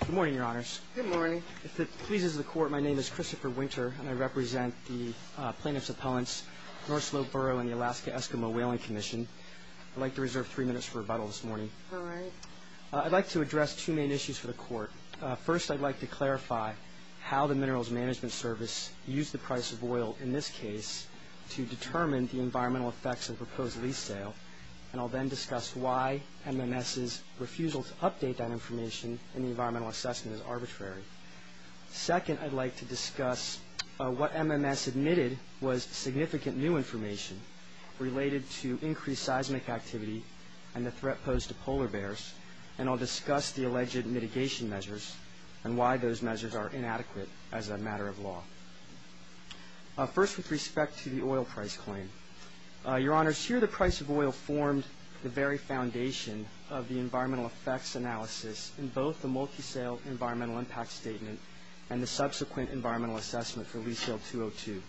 Good morning, Your Honors. Good morning. If it pleases the Court, my name is Christopher Winter, and I represent the plaintiffs' appellants, North Slope Borough and the Alaska Eskimo Whaling Commission. I'd like to reserve three minutes for rebuttal this morning. All right. I'd like to address two main issues for the Court. First, I'd like to clarify how the Minerals Management Service used the price of oil in this case to determine the environmental effects of the proposed lease sale, and I'll then discuss why MMS's refusal to update that information in the environmental assessment is arbitrary. Second, I'd like to discuss what MMS admitted was significant new information related to increased seismic activity and the threat posed to polar bears, and I'll discuss the alleged mitigation measures and why those measures are inadequate as a matter of law. First, with respect to the oil price claim, Your Honors, here the price of oil formed the very foundation of the environmental effects analysis in both the multi-sale environmental impact statement and the subsequent environmental assessment for lease sale 202.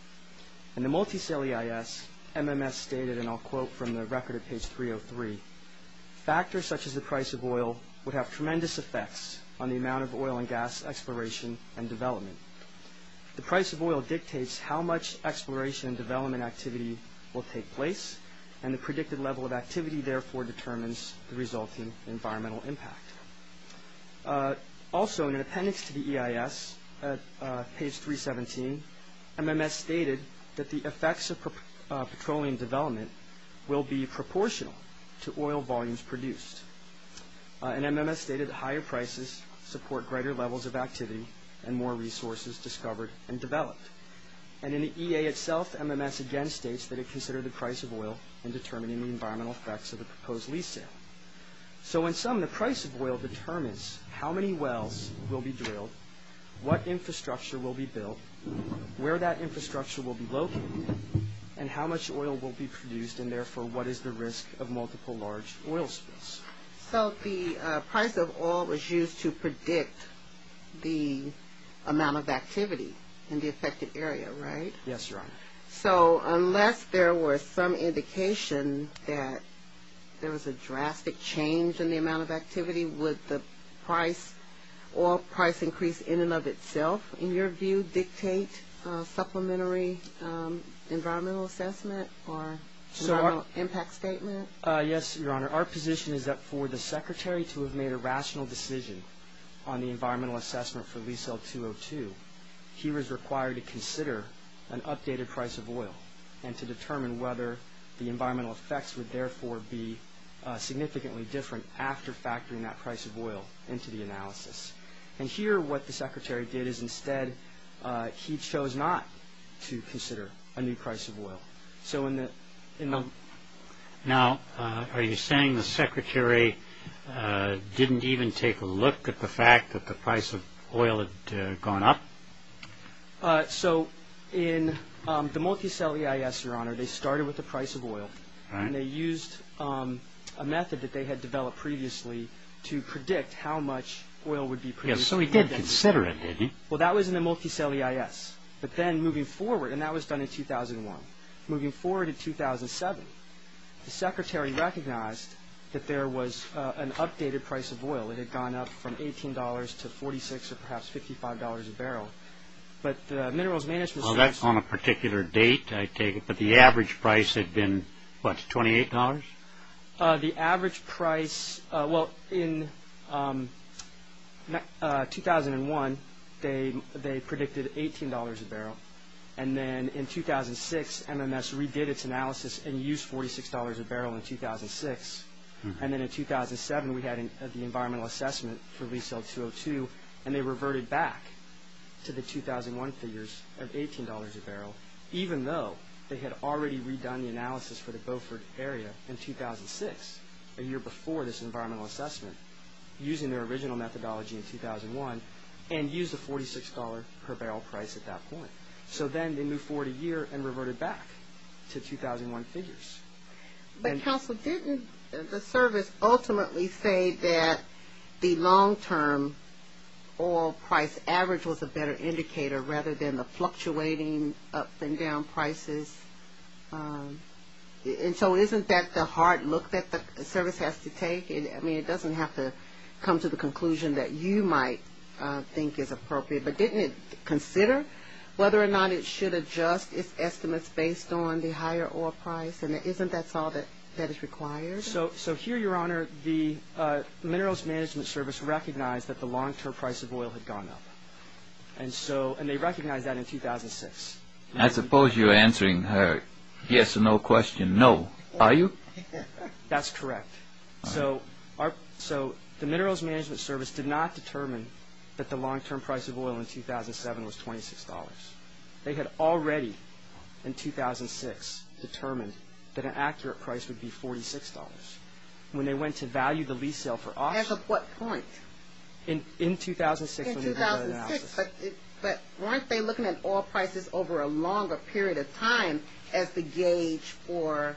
In the multi-sale EIS, MMS stated, and I'll quote from the record at page 303, factors such as the price of oil would have tremendous effects on the amount of oil and gas exploration and development. The price of oil dictates how much exploration and development activity will take place, and the predicted level of activity, therefore, determines the resulting environmental impact. Also, in an appendix to the EIS at page 317, MMS stated that the effects of petroleum development will be proportional to oil volumes produced. And MMS stated that higher prices support greater levels of activity and more resources discovered and developed. And in the EA itself, MMS again states that it considered the price of oil in determining the environmental effects of the proposed lease sale. So in sum, the price of oil determines how many wells will be drilled, what infrastructure will be built, where that infrastructure will be located, and how much oil will be produced, and therefore, what is the risk of multiple large oil spills. So the price of oil was used to predict the amount of activity in the affected area, right? Yes, Your Honor. So unless there were some indication that there was a drastic change in the amount of activity, would the price or price increase in and of itself, in your view, dictate supplementary environmental assessment or environmental impact statement? Yes, Your Honor. Our position is that for the Secretary to have made a rational decision on the environmental assessment for lease sale 202, he was required to consider an updated price of oil and to determine whether the environmental effects would therefore be significantly different after factoring that price of oil into the analysis. And here what the Secretary did is instead he chose not to consider a new price of oil. Now, are you saying the Secretary didn't even take a look at the fact that the price of oil had gone up? So in the multi-cell EIS, Your Honor, they started with the price of oil, and they used a method that they had developed previously to predict how much oil would be produced. Yes, so he did consider it, did he? Well, that was in the multi-cell EIS. But then moving forward, and that was done in 2001, moving forward to 2007, the Secretary recognized that there was an updated price of oil. It had gone up from $18 to $46 or perhaps $55 a barrel. But the Minerals Management Service- Well, that's on a particular date, I take it, but the average price had been, what, $28? The average price, well, in 2001, they predicted $18 a barrel. And then in 2006, MMS redid its analysis and used $46 a barrel in 2006. And then in 2007, we had the environmental assessment for resale 202, and they reverted back to the 2001 figures of $18 a barrel, even though they had already redone the analysis for the Beaufort area in 2006, a year before this environmental assessment, using their original methodology in 2001, and used the $46 per barrel price at that point. So then they moved forward a year and reverted back to 2001 figures. But didn't the service ultimately say that the long-term oil price average was a better indicator rather than the fluctuating up and down prices? And so isn't that the hard look that the service has to take? I mean, it doesn't have to come to the conclusion that you might think is appropriate. But didn't it consider whether or not it should adjust its estimates based on the higher oil price? And isn't that all that is required? So here, Your Honor, the Minerals Management Service recognized that the long-term price of oil had gone up. And they recognized that in 2006. I suppose you're answering her yes or no question, no. Are you? That's correct. So the Minerals Management Service did not determine that the long-term price of oil in 2007 was $26. They had already, in 2006, determined that an accurate price would be $46. When they went to value the lease sale for auction. As of what point? In 2006. In 2006. But weren't they looking at oil prices over a longer period of time as the gauge for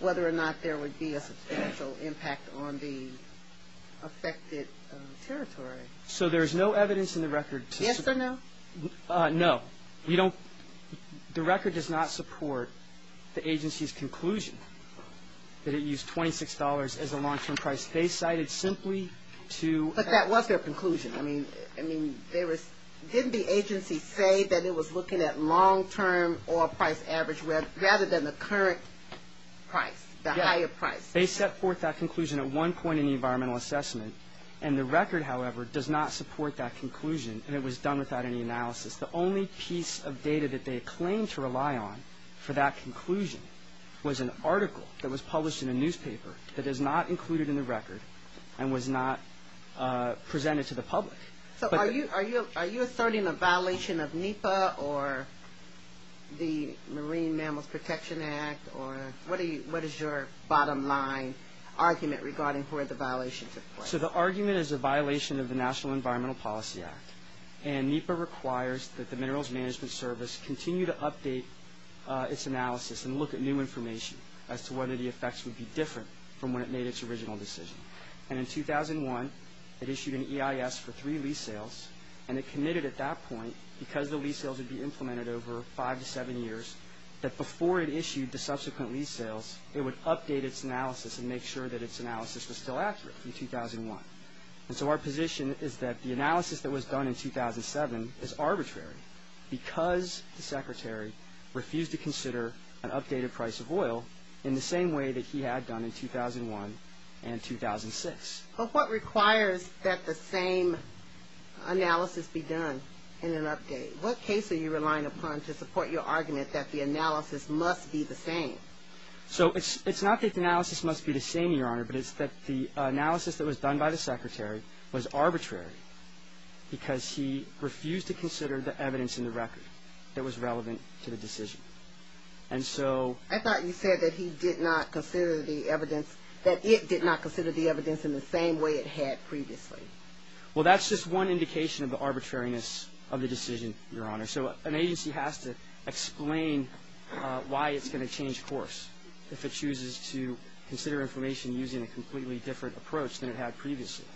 whether or not there would be a substantial impact on the affected territory? So there is no evidence in the record to support. Yes or no? No. The record does not support the agency's conclusion that it used $26 as a long-term price. They cited simply to. But that was their conclusion. I mean, didn't the agency say that it was looking at long-term oil price average rather than the current price, the higher price? They set forth that conclusion at one point in the environmental assessment. And the record, however, does not support that conclusion. And it was done without any analysis. The only piece of data that they claimed to rely on for that conclusion was an article that was published in a newspaper that is not included in the record and was not presented to the public. So are you asserting a violation of NEPA or the Marine Mammals Protection Act? Or what is your bottom line argument regarding where the violations are? So the argument is a violation of the National Environmental Policy Act. And NEPA requires that the Minerals Management Service continue to update its analysis and look at new information as to whether the effects would be different from when it made its original decision. And in 2001, it issued an EIS for three lease sales. And it committed at that point, because the lease sales would be implemented over five to seven years, that before it issued the subsequent lease sales, it would update its analysis and make sure that its analysis was still accurate in 2001. And so our position is that the analysis that was done in 2007 is arbitrary because the Secretary refused to consider an updated price of oil in the same way that he had done in 2001 and 2006. But what requires that the same analysis be done in an update? What case are you relying upon to support your argument that the analysis must be the same? So it's not that the analysis must be the same, Your Honor, but it's that the analysis that was done by the Secretary was arbitrary because he refused to consider the evidence in the record that was relevant to the decision. And so – I thought you said that he did not consider the evidence – that it did not consider the evidence in the same way it had previously. Well, that's just one indication of the arbitrariness of the decision, Your Honor. So an agency has to explain why it's going to change course if it chooses to consider information using a completely different approach than it had previously.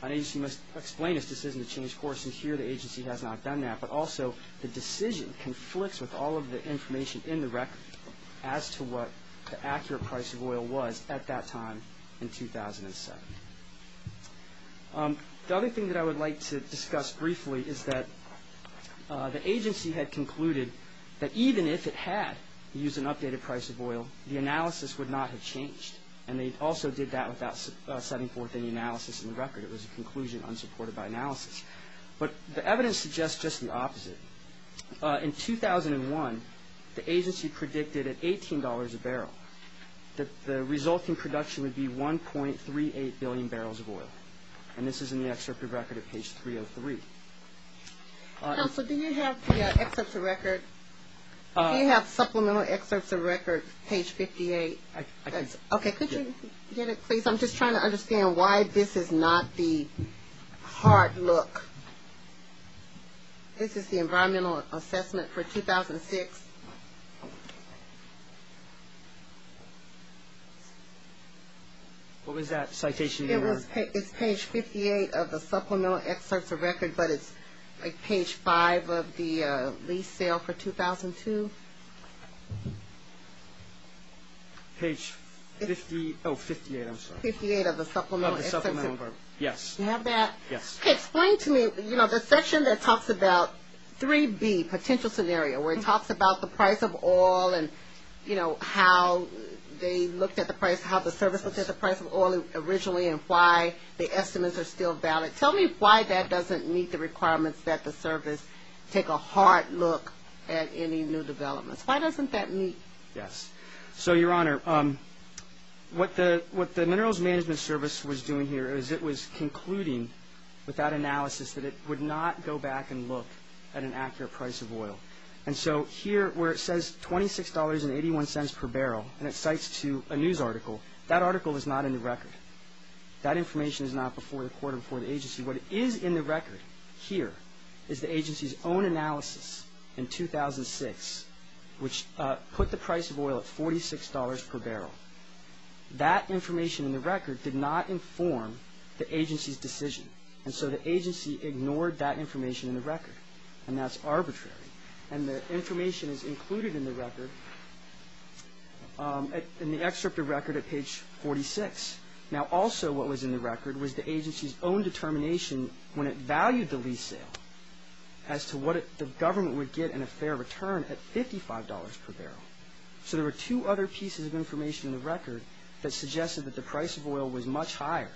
An agency must explain its decision to change course. And here the agency has not done that. But also the decision conflicts with all of the information in the record as to what the accurate price of oil was at that time in 2007. The other thing that I would like to discuss briefly is that the agency had concluded that even if it had used an updated price of oil, the analysis would not have changed. And they also did that without setting forth any analysis in the record. It was a conclusion unsupported by analysis. But the evidence suggests just the opposite. In 2001, the agency predicted at $18 a barrel that the resulting production would be 1.38 billion barrels of oil. And this is in the excerpt of record at page 303. Counsel, do you have the excerpts of record? Do you have supplemental excerpts of record, page 58? Okay, could you get it, please? I'm just trying to understand why this is not the hard look. This is the environmental assessment for 2006. What was that citation, Your Honor? It's page 58 of the supplemental excerpts of record, but it's like page 5 of the lease sale for 2002. Page 58, I'm sorry. 58 of the supplemental excerpts of record. Yes. Do you have that? Yes. Okay, explain to me, you know, the section that talks about 3B, potential scenario, where it talks about the price of oil and, you know, how they looked at the price, looked at the price of oil originally and why the estimates are still valid. Tell me why that doesn't meet the requirements that the service take a hard look at any new developments. Why doesn't that meet? Yes. So, Your Honor, what the Minerals Management Service was doing here is it was concluding with that analysis that it would not go back and look at an accurate price of oil. And so here where it says $26.81 per barrel and it cites to a news article, that article is not in the record. That information is not before the court or before the agency. What is in the record here is the agency's own analysis in 2006, which put the price of oil at $46 per barrel. That information in the record did not inform the agency's decision. And so the agency ignored that information in the record, and that's arbitrary. And the information is included in the record, in the excerpt of record at page 46. Now, also what was in the record was the agency's own determination when it valued the lease sale as to what the government would get in a fair return at $55 per barrel. So there were two other pieces of information in the record that suggested that the price of oil was much higher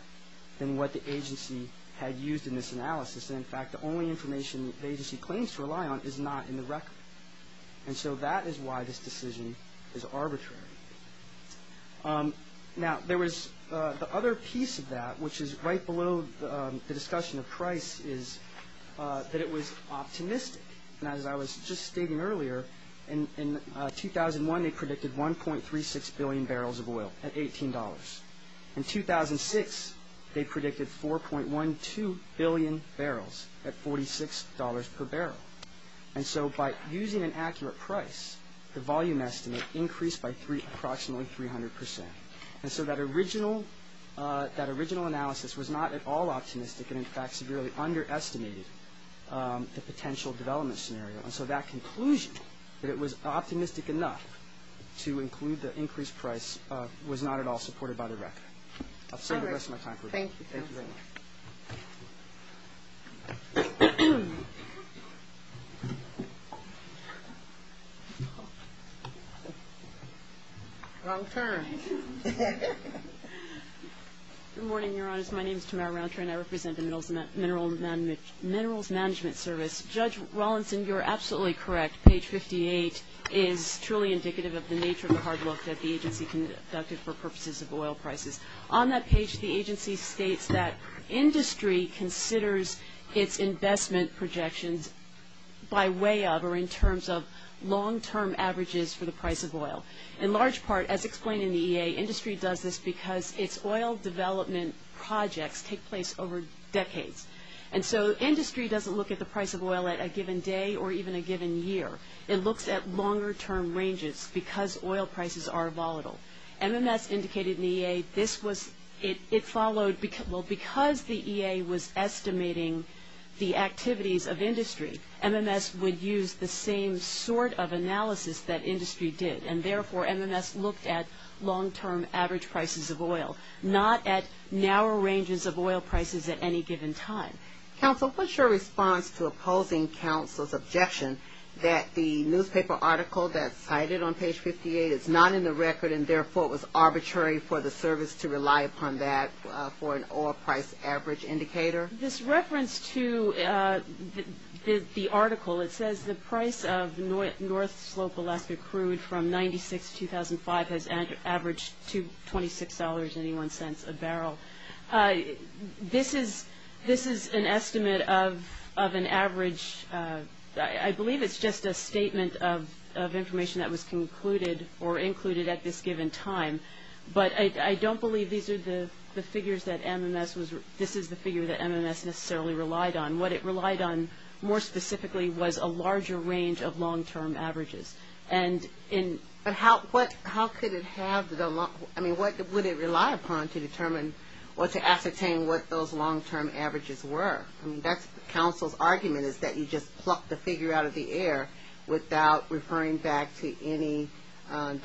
than what the agency had used in this analysis. And, in fact, the only information the agency claims to rely on is not in the record. And so that is why this decision is arbitrary. Now, there was the other piece of that, which is right below the discussion of price, is that it was optimistic. And as I was just stating earlier, in 2001 they predicted 1.36 billion barrels of oil at $18. In 2006 they predicted 4.12 billion barrels at $46 per barrel. And so by using an accurate price, the volume estimate increased by approximately 300%. And so that original analysis was not at all optimistic and, in fact, severely underestimated the potential development scenario. And so that conclusion, that it was optimistic enough to include the increased price, was not at all supported by the record. I'll save the rest of my time for a moment. Thank you. Thank you very much. Round turn. Good morning, Your Honors. My name is Tamara Roundtree and I represent the Minerals Management Service. Judge Rawlinson, you're absolutely correct. Page 58 is truly indicative of the nature of the hard look that the agency conducted for purposes of oil prices. On that page, the agency states that industry considers its investment projections by way of or in terms of long-term averages for the price of oil. In large part, as explained in the EA, industry does this because its oil development projects take place over decades. And so industry doesn't look at the price of oil at a given day or even a given year. It looks at longer-term ranges because oil prices are volatile. MMS indicated in the EA this was – it followed – well, because the EA was estimating the activities of industry, MMS would use the same sort of analysis that industry did. And, therefore, MMS looked at long-term average prices of oil, not at narrow ranges of oil prices at any given time. Counsel, what's your response to opposing counsel's objection that the newspaper article that's cited on page 58 is not in the record and, therefore, it was arbitrary for the service to rely upon that for an oil price average indicator? This reference to the article, it says the price of North Slope Alaska crude from 1996 to 2005 has averaged $26.81 a barrel. This is an estimate of an average – I believe it's just a statement of information that was concluded or included at this given time. But I don't believe these are the figures that MMS was – this is the figure that MMS necessarily relied on. What it relied on more specifically was a larger range of long-term averages. And in – But how could it have – I mean, what would it rely upon to determine or to ascertain what those long-term averages were? I mean, that's counsel's argument is that you just plucked the figure out of the air without referring back to any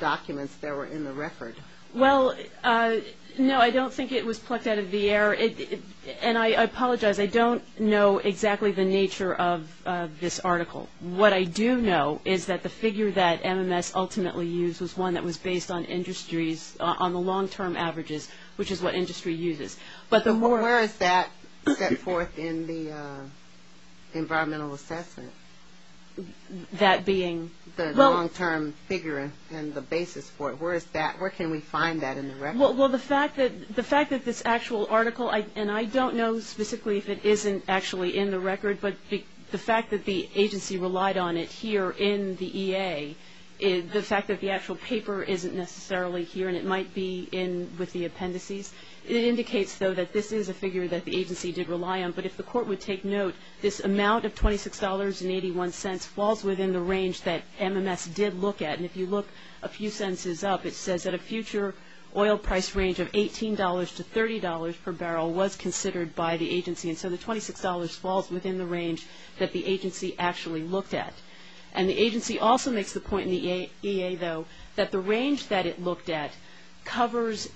documents that were in the record. Well, no, I don't think it was plucked out of the air. And I apologize. I don't know exactly the nature of this article. What I do know is that the figure that MMS ultimately used was one that was based on industries – on the long-term averages, which is what industry uses. But the more – Where is that set forth in the environmental assessment? That being – The long-term figure and the basis for it. Where is that – where can we find that in the record? Well, the fact that this actual article – and I don't know specifically if it isn't actually in the record, but the fact that the agency relied on it here in the EA, the fact that the actual paper isn't necessarily here and it might be in with the appendices, it indicates, though, that this is a figure that the agency did rely on. But if the Court would take note, this amount of $26.81 falls within the range that MMS did look at. And if you look a few sentences up, it says that a future oil price range of $18 to $30 per barrel was considered by the agency. And so the $26 falls within the range that the agency actually looked at. And the agency also makes the point in the EA, though, that the range that it looked at covers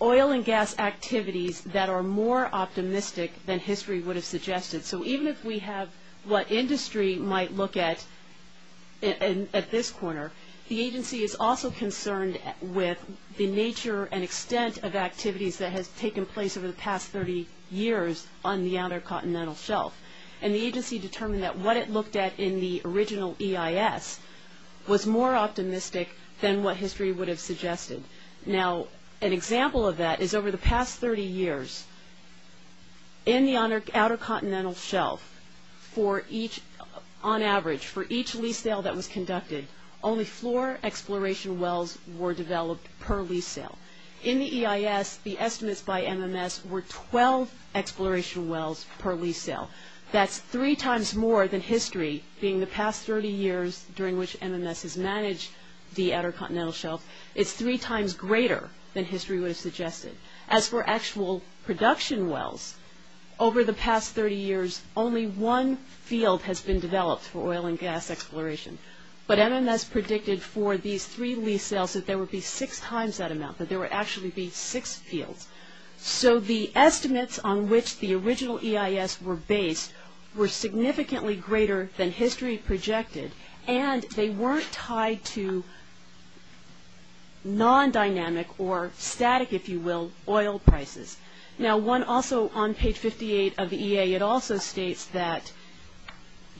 oil and gas activities that are more optimistic than history would have suggested. So even if we have what industry might look at at this corner, the agency is also concerned with the nature and extent of activities that has taken place over the past 30 years on the Outer Continental Shelf. And the agency determined that what it looked at in the original EIS was more optimistic than what history would have suggested. Now, an example of that is over the past 30 years, in the Outer Continental Shelf, on average, for each lease sale that was conducted, only four exploration wells were developed per lease sale. In the EIS, the estimates by MMS were 12 exploration wells per lease sale. That's three times more than history, being the past 30 years during which MMS has managed the Outer Continental Shelf. It's three times greater than history would have suggested. As for actual production wells, over the past 30 years, only one field has been developed for oil and gas exploration. But MMS predicted for these three lease sales that there would be six times that amount, that there would actually be six fields. So the estimates on which the original EIS were based were significantly greater than history projected, and they weren't tied to non-dynamic or static, if you will, oil prices. Now, one also on page 58 of the EA, it also states that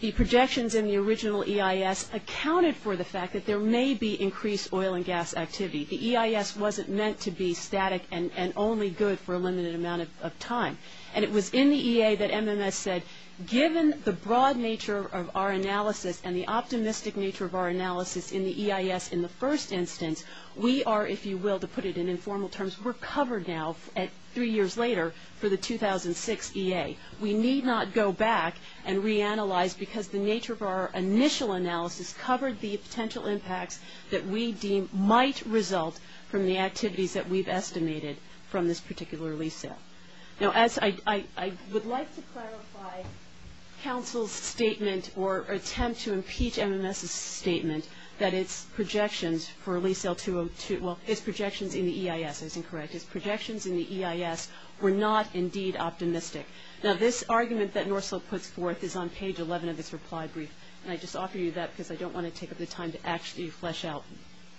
the projections in the original EIS accounted for the fact that there may be increased oil and gas activity. The EIS wasn't meant to be static and only good for a limited amount of time. And it was in the EA that MMS said, given the broad nature of our analysis and the optimistic nature of our analysis in the EIS in the first instance, we are, if you will, to put it in informal terms, we're covered now three years later for the 2006 EA. We need not go back and reanalyze because the nature of our initial analysis covered the potential impacts that we deem might result from the activities that we've estimated from this particular lease sale. Now, as I would like to clarify, counsel's statement or attempt to impeach MMS's statement that its projections for lease sale, well, its projections in the EIS, I was incorrect, its projections in the EIS were not indeed optimistic. Now, this argument that Norsell puts forth is on page 11 of this reply brief, and I just offer you that because I don't want to take up the time to actually flesh out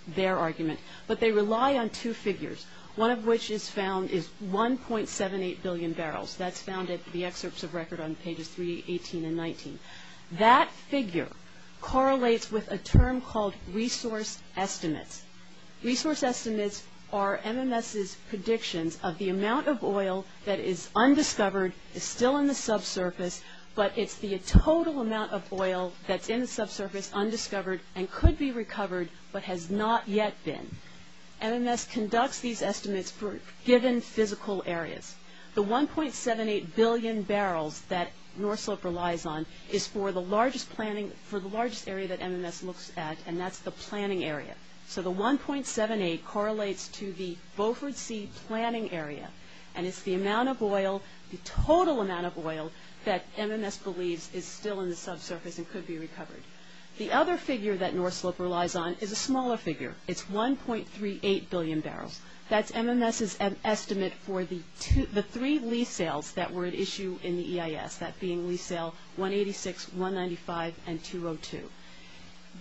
their argument. But they rely on two figures, one of which is found is 1.78 billion barrels. That's found in the excerpts of record on pages 3, 18, and 19. That figure correlates with a term called resource estimates. Resource estimates are MMS's predictions of the amount of oil that is undiscovered, is still in the subsurface, but it's the total amount of oil that's in the subsurface, undiscovered, and could be recovered but has not yet been. MMS conducts these estimates for given physical areas. The 1.78 billion barrels that Norsell relies on is for the largest planning, for the largest area that MMS looks at, and that's the planning area. So the 1.78 correlates to the Beaufort Sea planning area, and it's the amount of oil, the total amount of oil, that MMS believes is still in the subsurface and could be recovered. The other figure that Norsell relies on is a smaller figure. It's 1.38 billion barrels. That's MMS's estimate for the three lease sales that were at issue in the EIS, that being lease sale 186, 195, and 202.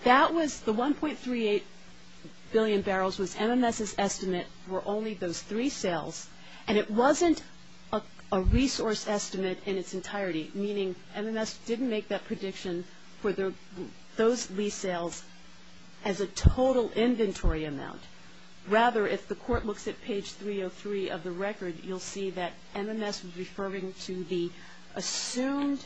The 1.38 billion barrels was MMS's estimate for only those three sales, and it wasn't a resource estimate in its entirety, meaning MMS didn't make that prediction for those lease sales as a total inventory amount. Rather, if the court looks at page 303 of the record, you'll see that MMS was referring to the assumed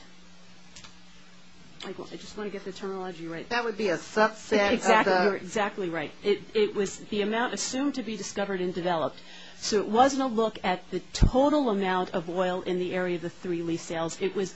– I just want to get the terminology right. That would be a subset of the – Exactly right. It was the amount assumed to be discovered and developed. So it wasn't a look at the total amount of oil in the area of the three lease sales. It was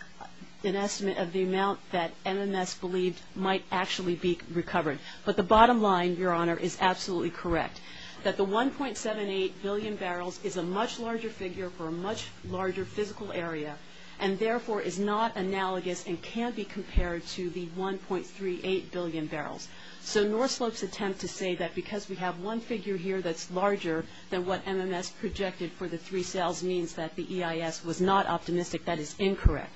an estimate of the amount that MMS believed might actually be recovered. But the bottom line, Your Honor, is absolutely correct, that the 1.78 billion barrels is a much larger figure for a much larger physical area and therefore is not analogous and can't be compared to the 1.38 billion barrels. So Norslope's attempt to say that because we have one figure here that's larger than what MMS projected for the three sales means that the EIS was not optimistic, that is incorrect.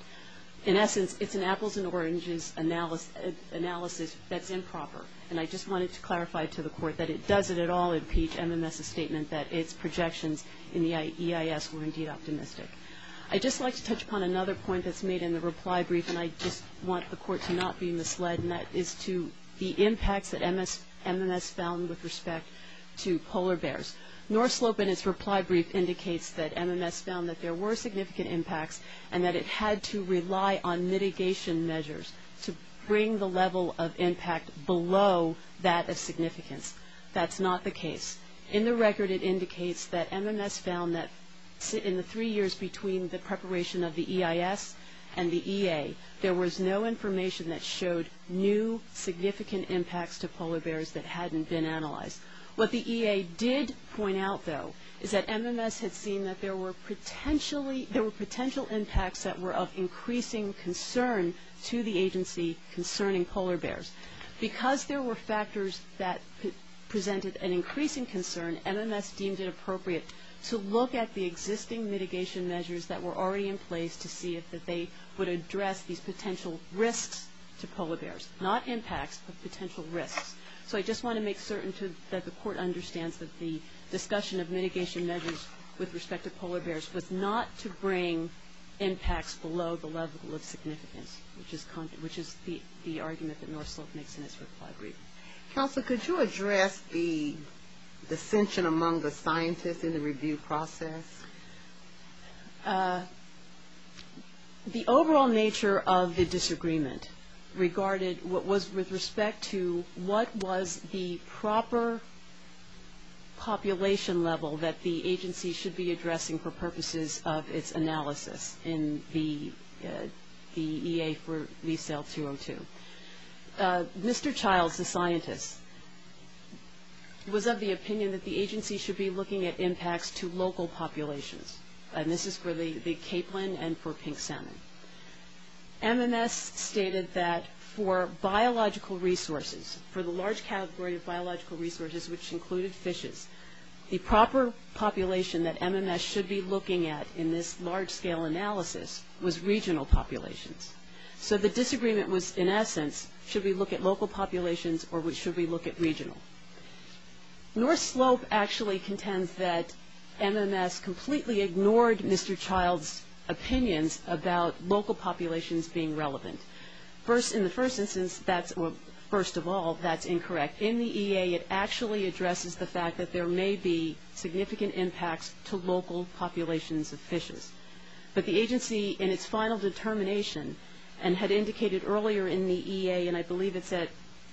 In essence, it's an apples and oranges analysis that's improper, and I just wanted to clarify to the court that it doesn't at all impeach MMS's statement that its projections in the EIS were indeed optimistic. I'd just like to touch upon another point that's made in the reply brief, and I just want the court to not be misled, and that is to the impacts that MMS found with respect to polar bears. Norslope in its reply brief indicates that MMS found that there were significant impacts and that it had to rely on mitigation measures to bring the level of impact below that of significance. That's not the case. In the record, it indicates that MMS found that in the three years between the preparation of the EIS and the EA, there was no information that showed new significant impacts to polar bears that hadn't been analyzed. What the EA did point out, though, is that MMS had seen that there were potential impacts that were of increasing concern to the agency concerning polar bears. Because there were factors that presented an increasing concern, MMS deemed it appropriate to look at the existing mitigation measures that were already in place to see if they would address these potential risks to polar bears. Not impacts, but potential risks. So I just want to make certain that the court understands that the discussion of mitigation measures with respect to polar bears was not to bring impacts below the level of significance, which is the argument that Norslope makes in its reply brief. Counsel, could you address the dissension among the scientists in the review process? The overall nature of the disagreement regarded what was with respect to what was the proper population level that the agency should be addressing for purposes of its analysis in the EA for lease sale 202. Mr. Childs, the scientist, was of the opinion that the agency should be looking at impacts to local populations. And this is for the capelin and for pink salmon. MMS stated that for biological resources, for the large category of biological resources which included fishes, the proper population that MMS should be looking at in this large-scale analysis was regional populations. So the disagreement was, in essence, should we look at local populations or should we look at regional? Norslope actually contends that MMS completely ignored Mr. Childs' opinions about local populations being relevant. First, in the first instance, that's, well, first of all, that's incorrect. In the EA, it actually addresses the fact that there may be significant impacts to local populations of fishes. But the agency, in its final determination, and had indicated earlier in the EA, and I believe it's at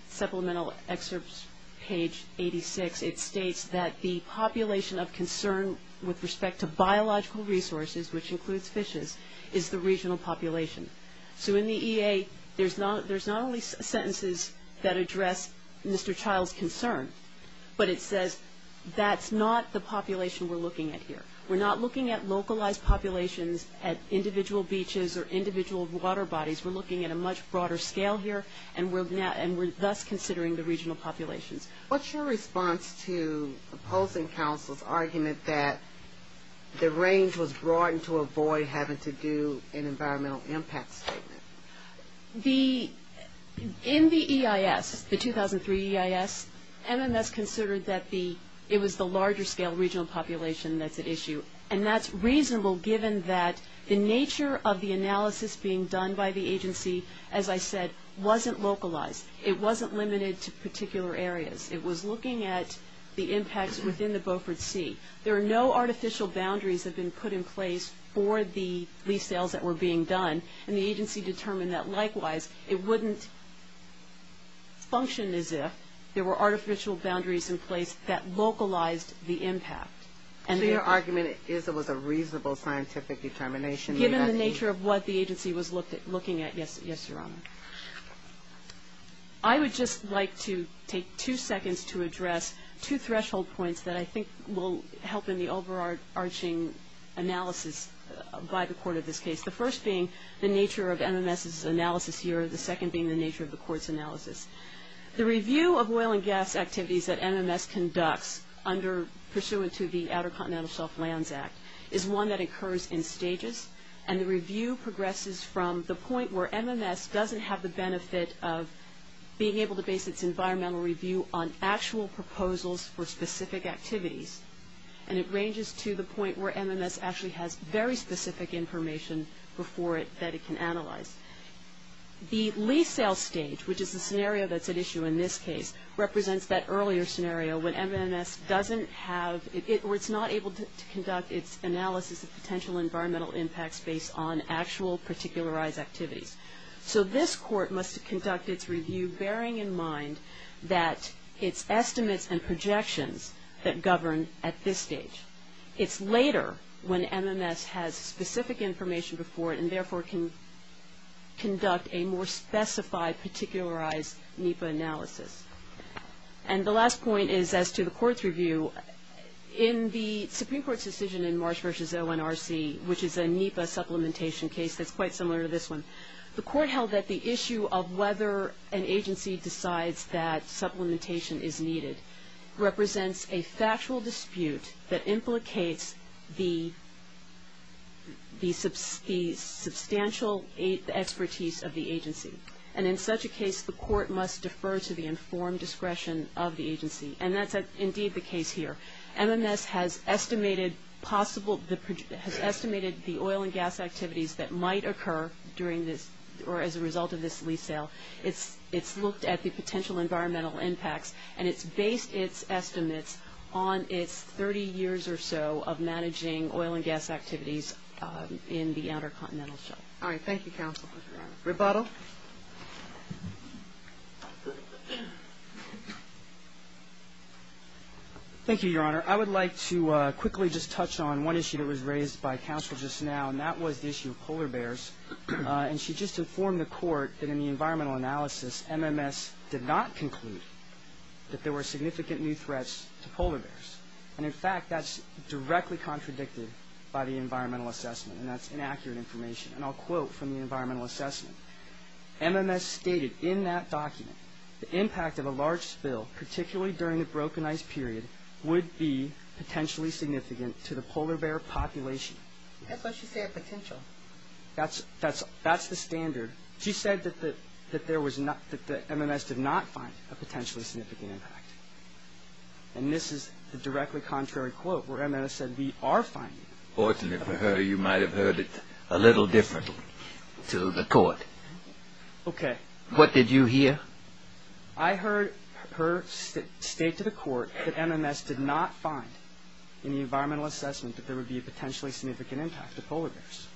supplemental excerpts page 86, it states that the population of concern with respect to biological resources, which includes fishes, is the regional population. So in the EA, there's not only sentences that address Mr. Childs' concern, but it says that's not the population we're looking at here. We're not looking at localized populations at individual beaches or individual water bodies. We're looking at a much broader scale here, and we're thus considering the regional populations. What's your response to opposing counsel's argument that the range was broadened to avoid having to do an environmental impact statement? In the EIS, the 2003 EIS, MMS considered that it was the larger scale regional population that's at issue, and that's reasonable given that the nature of the analysis being done by the agency, as I said, wasn't localized. It wasn't limited to particular areas. It was looking at the impacts within the Beaufort Sea. There are no artificial boundaries that have been put in place for the lease sales that were being done, and the agency determined that likewise it wouldn't function as if there were artificial boundaries in place that localized the impact. So your argument is it was a reasonable scientific determination? Given the nature of what the agency was looking at, yes, Your Honor. I would just like to take two seconds to address two threshold points that I think will help in the overarching analysis by the court of this case. The first being the nature of MMS's analysis here, the second being the nature of the court's analysis. The review of oil and gas activities that MMS conducts under, pursuant to the Outer Continental Shelf Lands Act is one that occurs in stages, and the review progresses from the point where MMS doesn't have the benefit of being able to base its environmental review on actual proposals for specific activities, and it ranges to the point where MMS actually has very specific information before it that it can analyze. The lease sale stage, which is the scenario that's at issue in this case, represents that earlier scenario when MMS doesn't have, or it's not able to conduct its analysis of potential environmental impacts based on actual particularized activities. So this court must conduct its review bearing in mind that its estimates and projections that govern at this stage. It's later when MMS has specific information before it and therefore can conduct a more specified, particularized NEPA analysis. And the last point is as to the court's review, in the Supreme Court's decision in Marsh v. ONRC, which is a NEPA supplementation case that's quite similar to this one, the court held that the issue of whether an agency decides that supplementation is needed represents a factual dispute that implicates the substantial expertise of the agency. And in such a case, the court must defer to the informed discretion of the agency, and that's indeed the case here. MMS has estimated the oil and gas activities that might occur during this, or as a result of this lease sale. It's looked at the potential environmental impacts, and it's based its estimates on its 30 years or so of managing oil and gas activities in the Outer Continental Shelf. Thank you, counsel. Thank you, Your Honor. I would like to quickly just touch on one issue that was raised by counsel just now, and that was the issue of polar bears. And she just informed the court that in the environmental analysis, MMS did not conclude that there were significant new threats to polar bears. And in fact, that's directly contradicted by the environmental assessment, and that's inaccurate information, and I'll quote from the environmental assessment. MMS stated in that document the impact of a large spill, particularly during the broken ice period, would be potentially significant to the polar bear population. That's what she said, potential. That's the standard. She said that MMS did not find a potentially significant impact, and this is the directly contrary quote where MMS said we are finding it. Fortunately for her, you might have heard it a little different to the court. Okay. What did you hear? I heard her state to the court that MMS did not find in the environmental assessment that there would be a potentially significant impact to polar bears.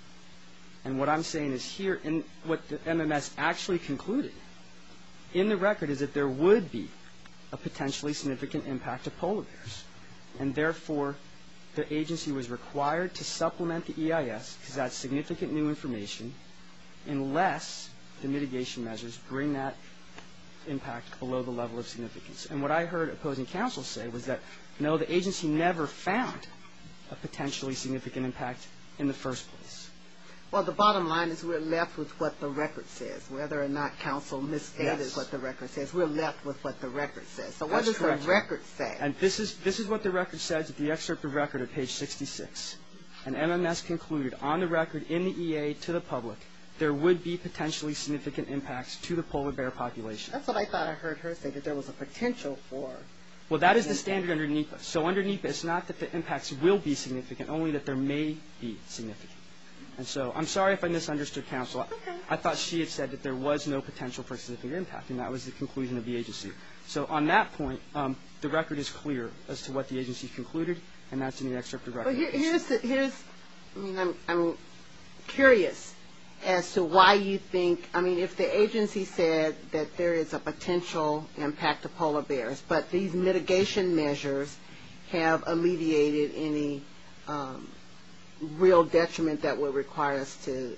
And what I'm saying is here, what MMS actually concluded in the record is that there would be a potentially significant impact to polar bears, and therefore the agency was required to supplement the EIS because that's significant new information unless the mitigation measures bring that impact below the level of significance. And what I heard opposing counsel say was that, no, the agency never found a potentially significant impact in the first place. Well, the bottom line is we're left with what the record says. Whether or not counsel misguided what the record says, we're left with what the record says. So what does the record say? And this is what the record says in the excerpt of record at page 66. And MMS concluded on the record in the EA to the public, there would be potentially significant impacts to the polar bear population. That's what I thought I heard her say, that there was a potential for. Well, that is the standard under NEPA. So under NEPA, it's not that the impacts will be significant, only that there may be significant. And so I'm sorry if I misunderstood counsel. I thought she had said that there was no potential for significant impact, and that was the conclusion of the agency. So on that point, the record is clear as to what the agency concluded, and that's in the excerpt of record. Here's, I mean, I'm curious as to why you think, I mean, if the agency said that there is a potential impact to polar bears, but these mitigation measures have alleviated any real detriment that would require us to,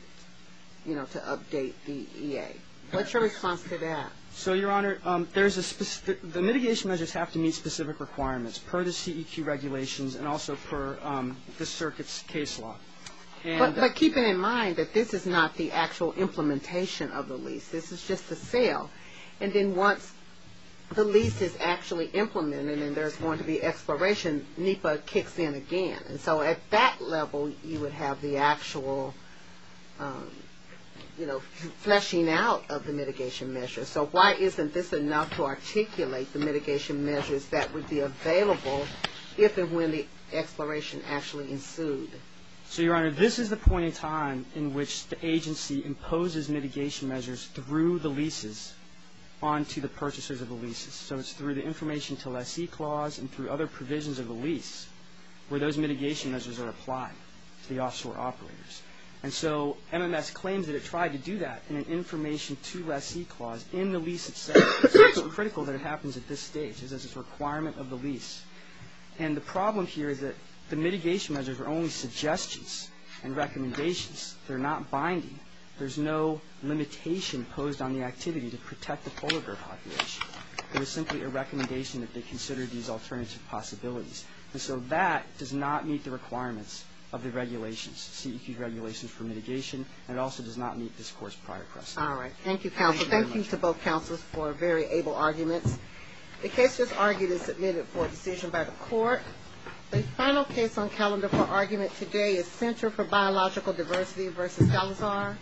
you know, to update the EA. What's your response to that? So, Your Honor, the mitigation measures have to meet specific requirements per the CEQ regulations and also per the circuit's case law. But keeping in mind that this is not the actual implementation of the lease. This is just the sale. And then once the lease is actually implemented and there's going to be expiration, NEPA kicks in again. And so at that level, you would have the actual, you know, fleshing out of the mitigation measures. So why isn't this enough to articulate the mitigation measures that would be available if and when the expiration actually ensued? So, Your Honor, this is the point in time in which the agency imposes mitigation measures through the leases. On to the purchasers of the leases. So it's through the information to lessee clause and through other provisions of the lease where those mitigation measures are applied to the offshore operators. And so MMS claims that it tried to do that in an information to lessee clause in the lease itself. So it's critical that it happens at this stage. It's a requirement of the lease. And the problem here is that the mitigation measures are only suggestions and recommendations. They're not binding. There's no limitation posed on the activity to protect the polar bear population. It was simply a recommendation that they consider these alternative possibilities. And so that does not meet the requirements of the regulations, CEQ regulations for mitigation. And it also does not meet this Court's prior precedent. All right. Thank you, counsel. Thank you to both counsels for very able arguments. The case just argued is submitted for a decision by the court. The final case on calendar for argument today is Center for Biological Diversity v. Salazar.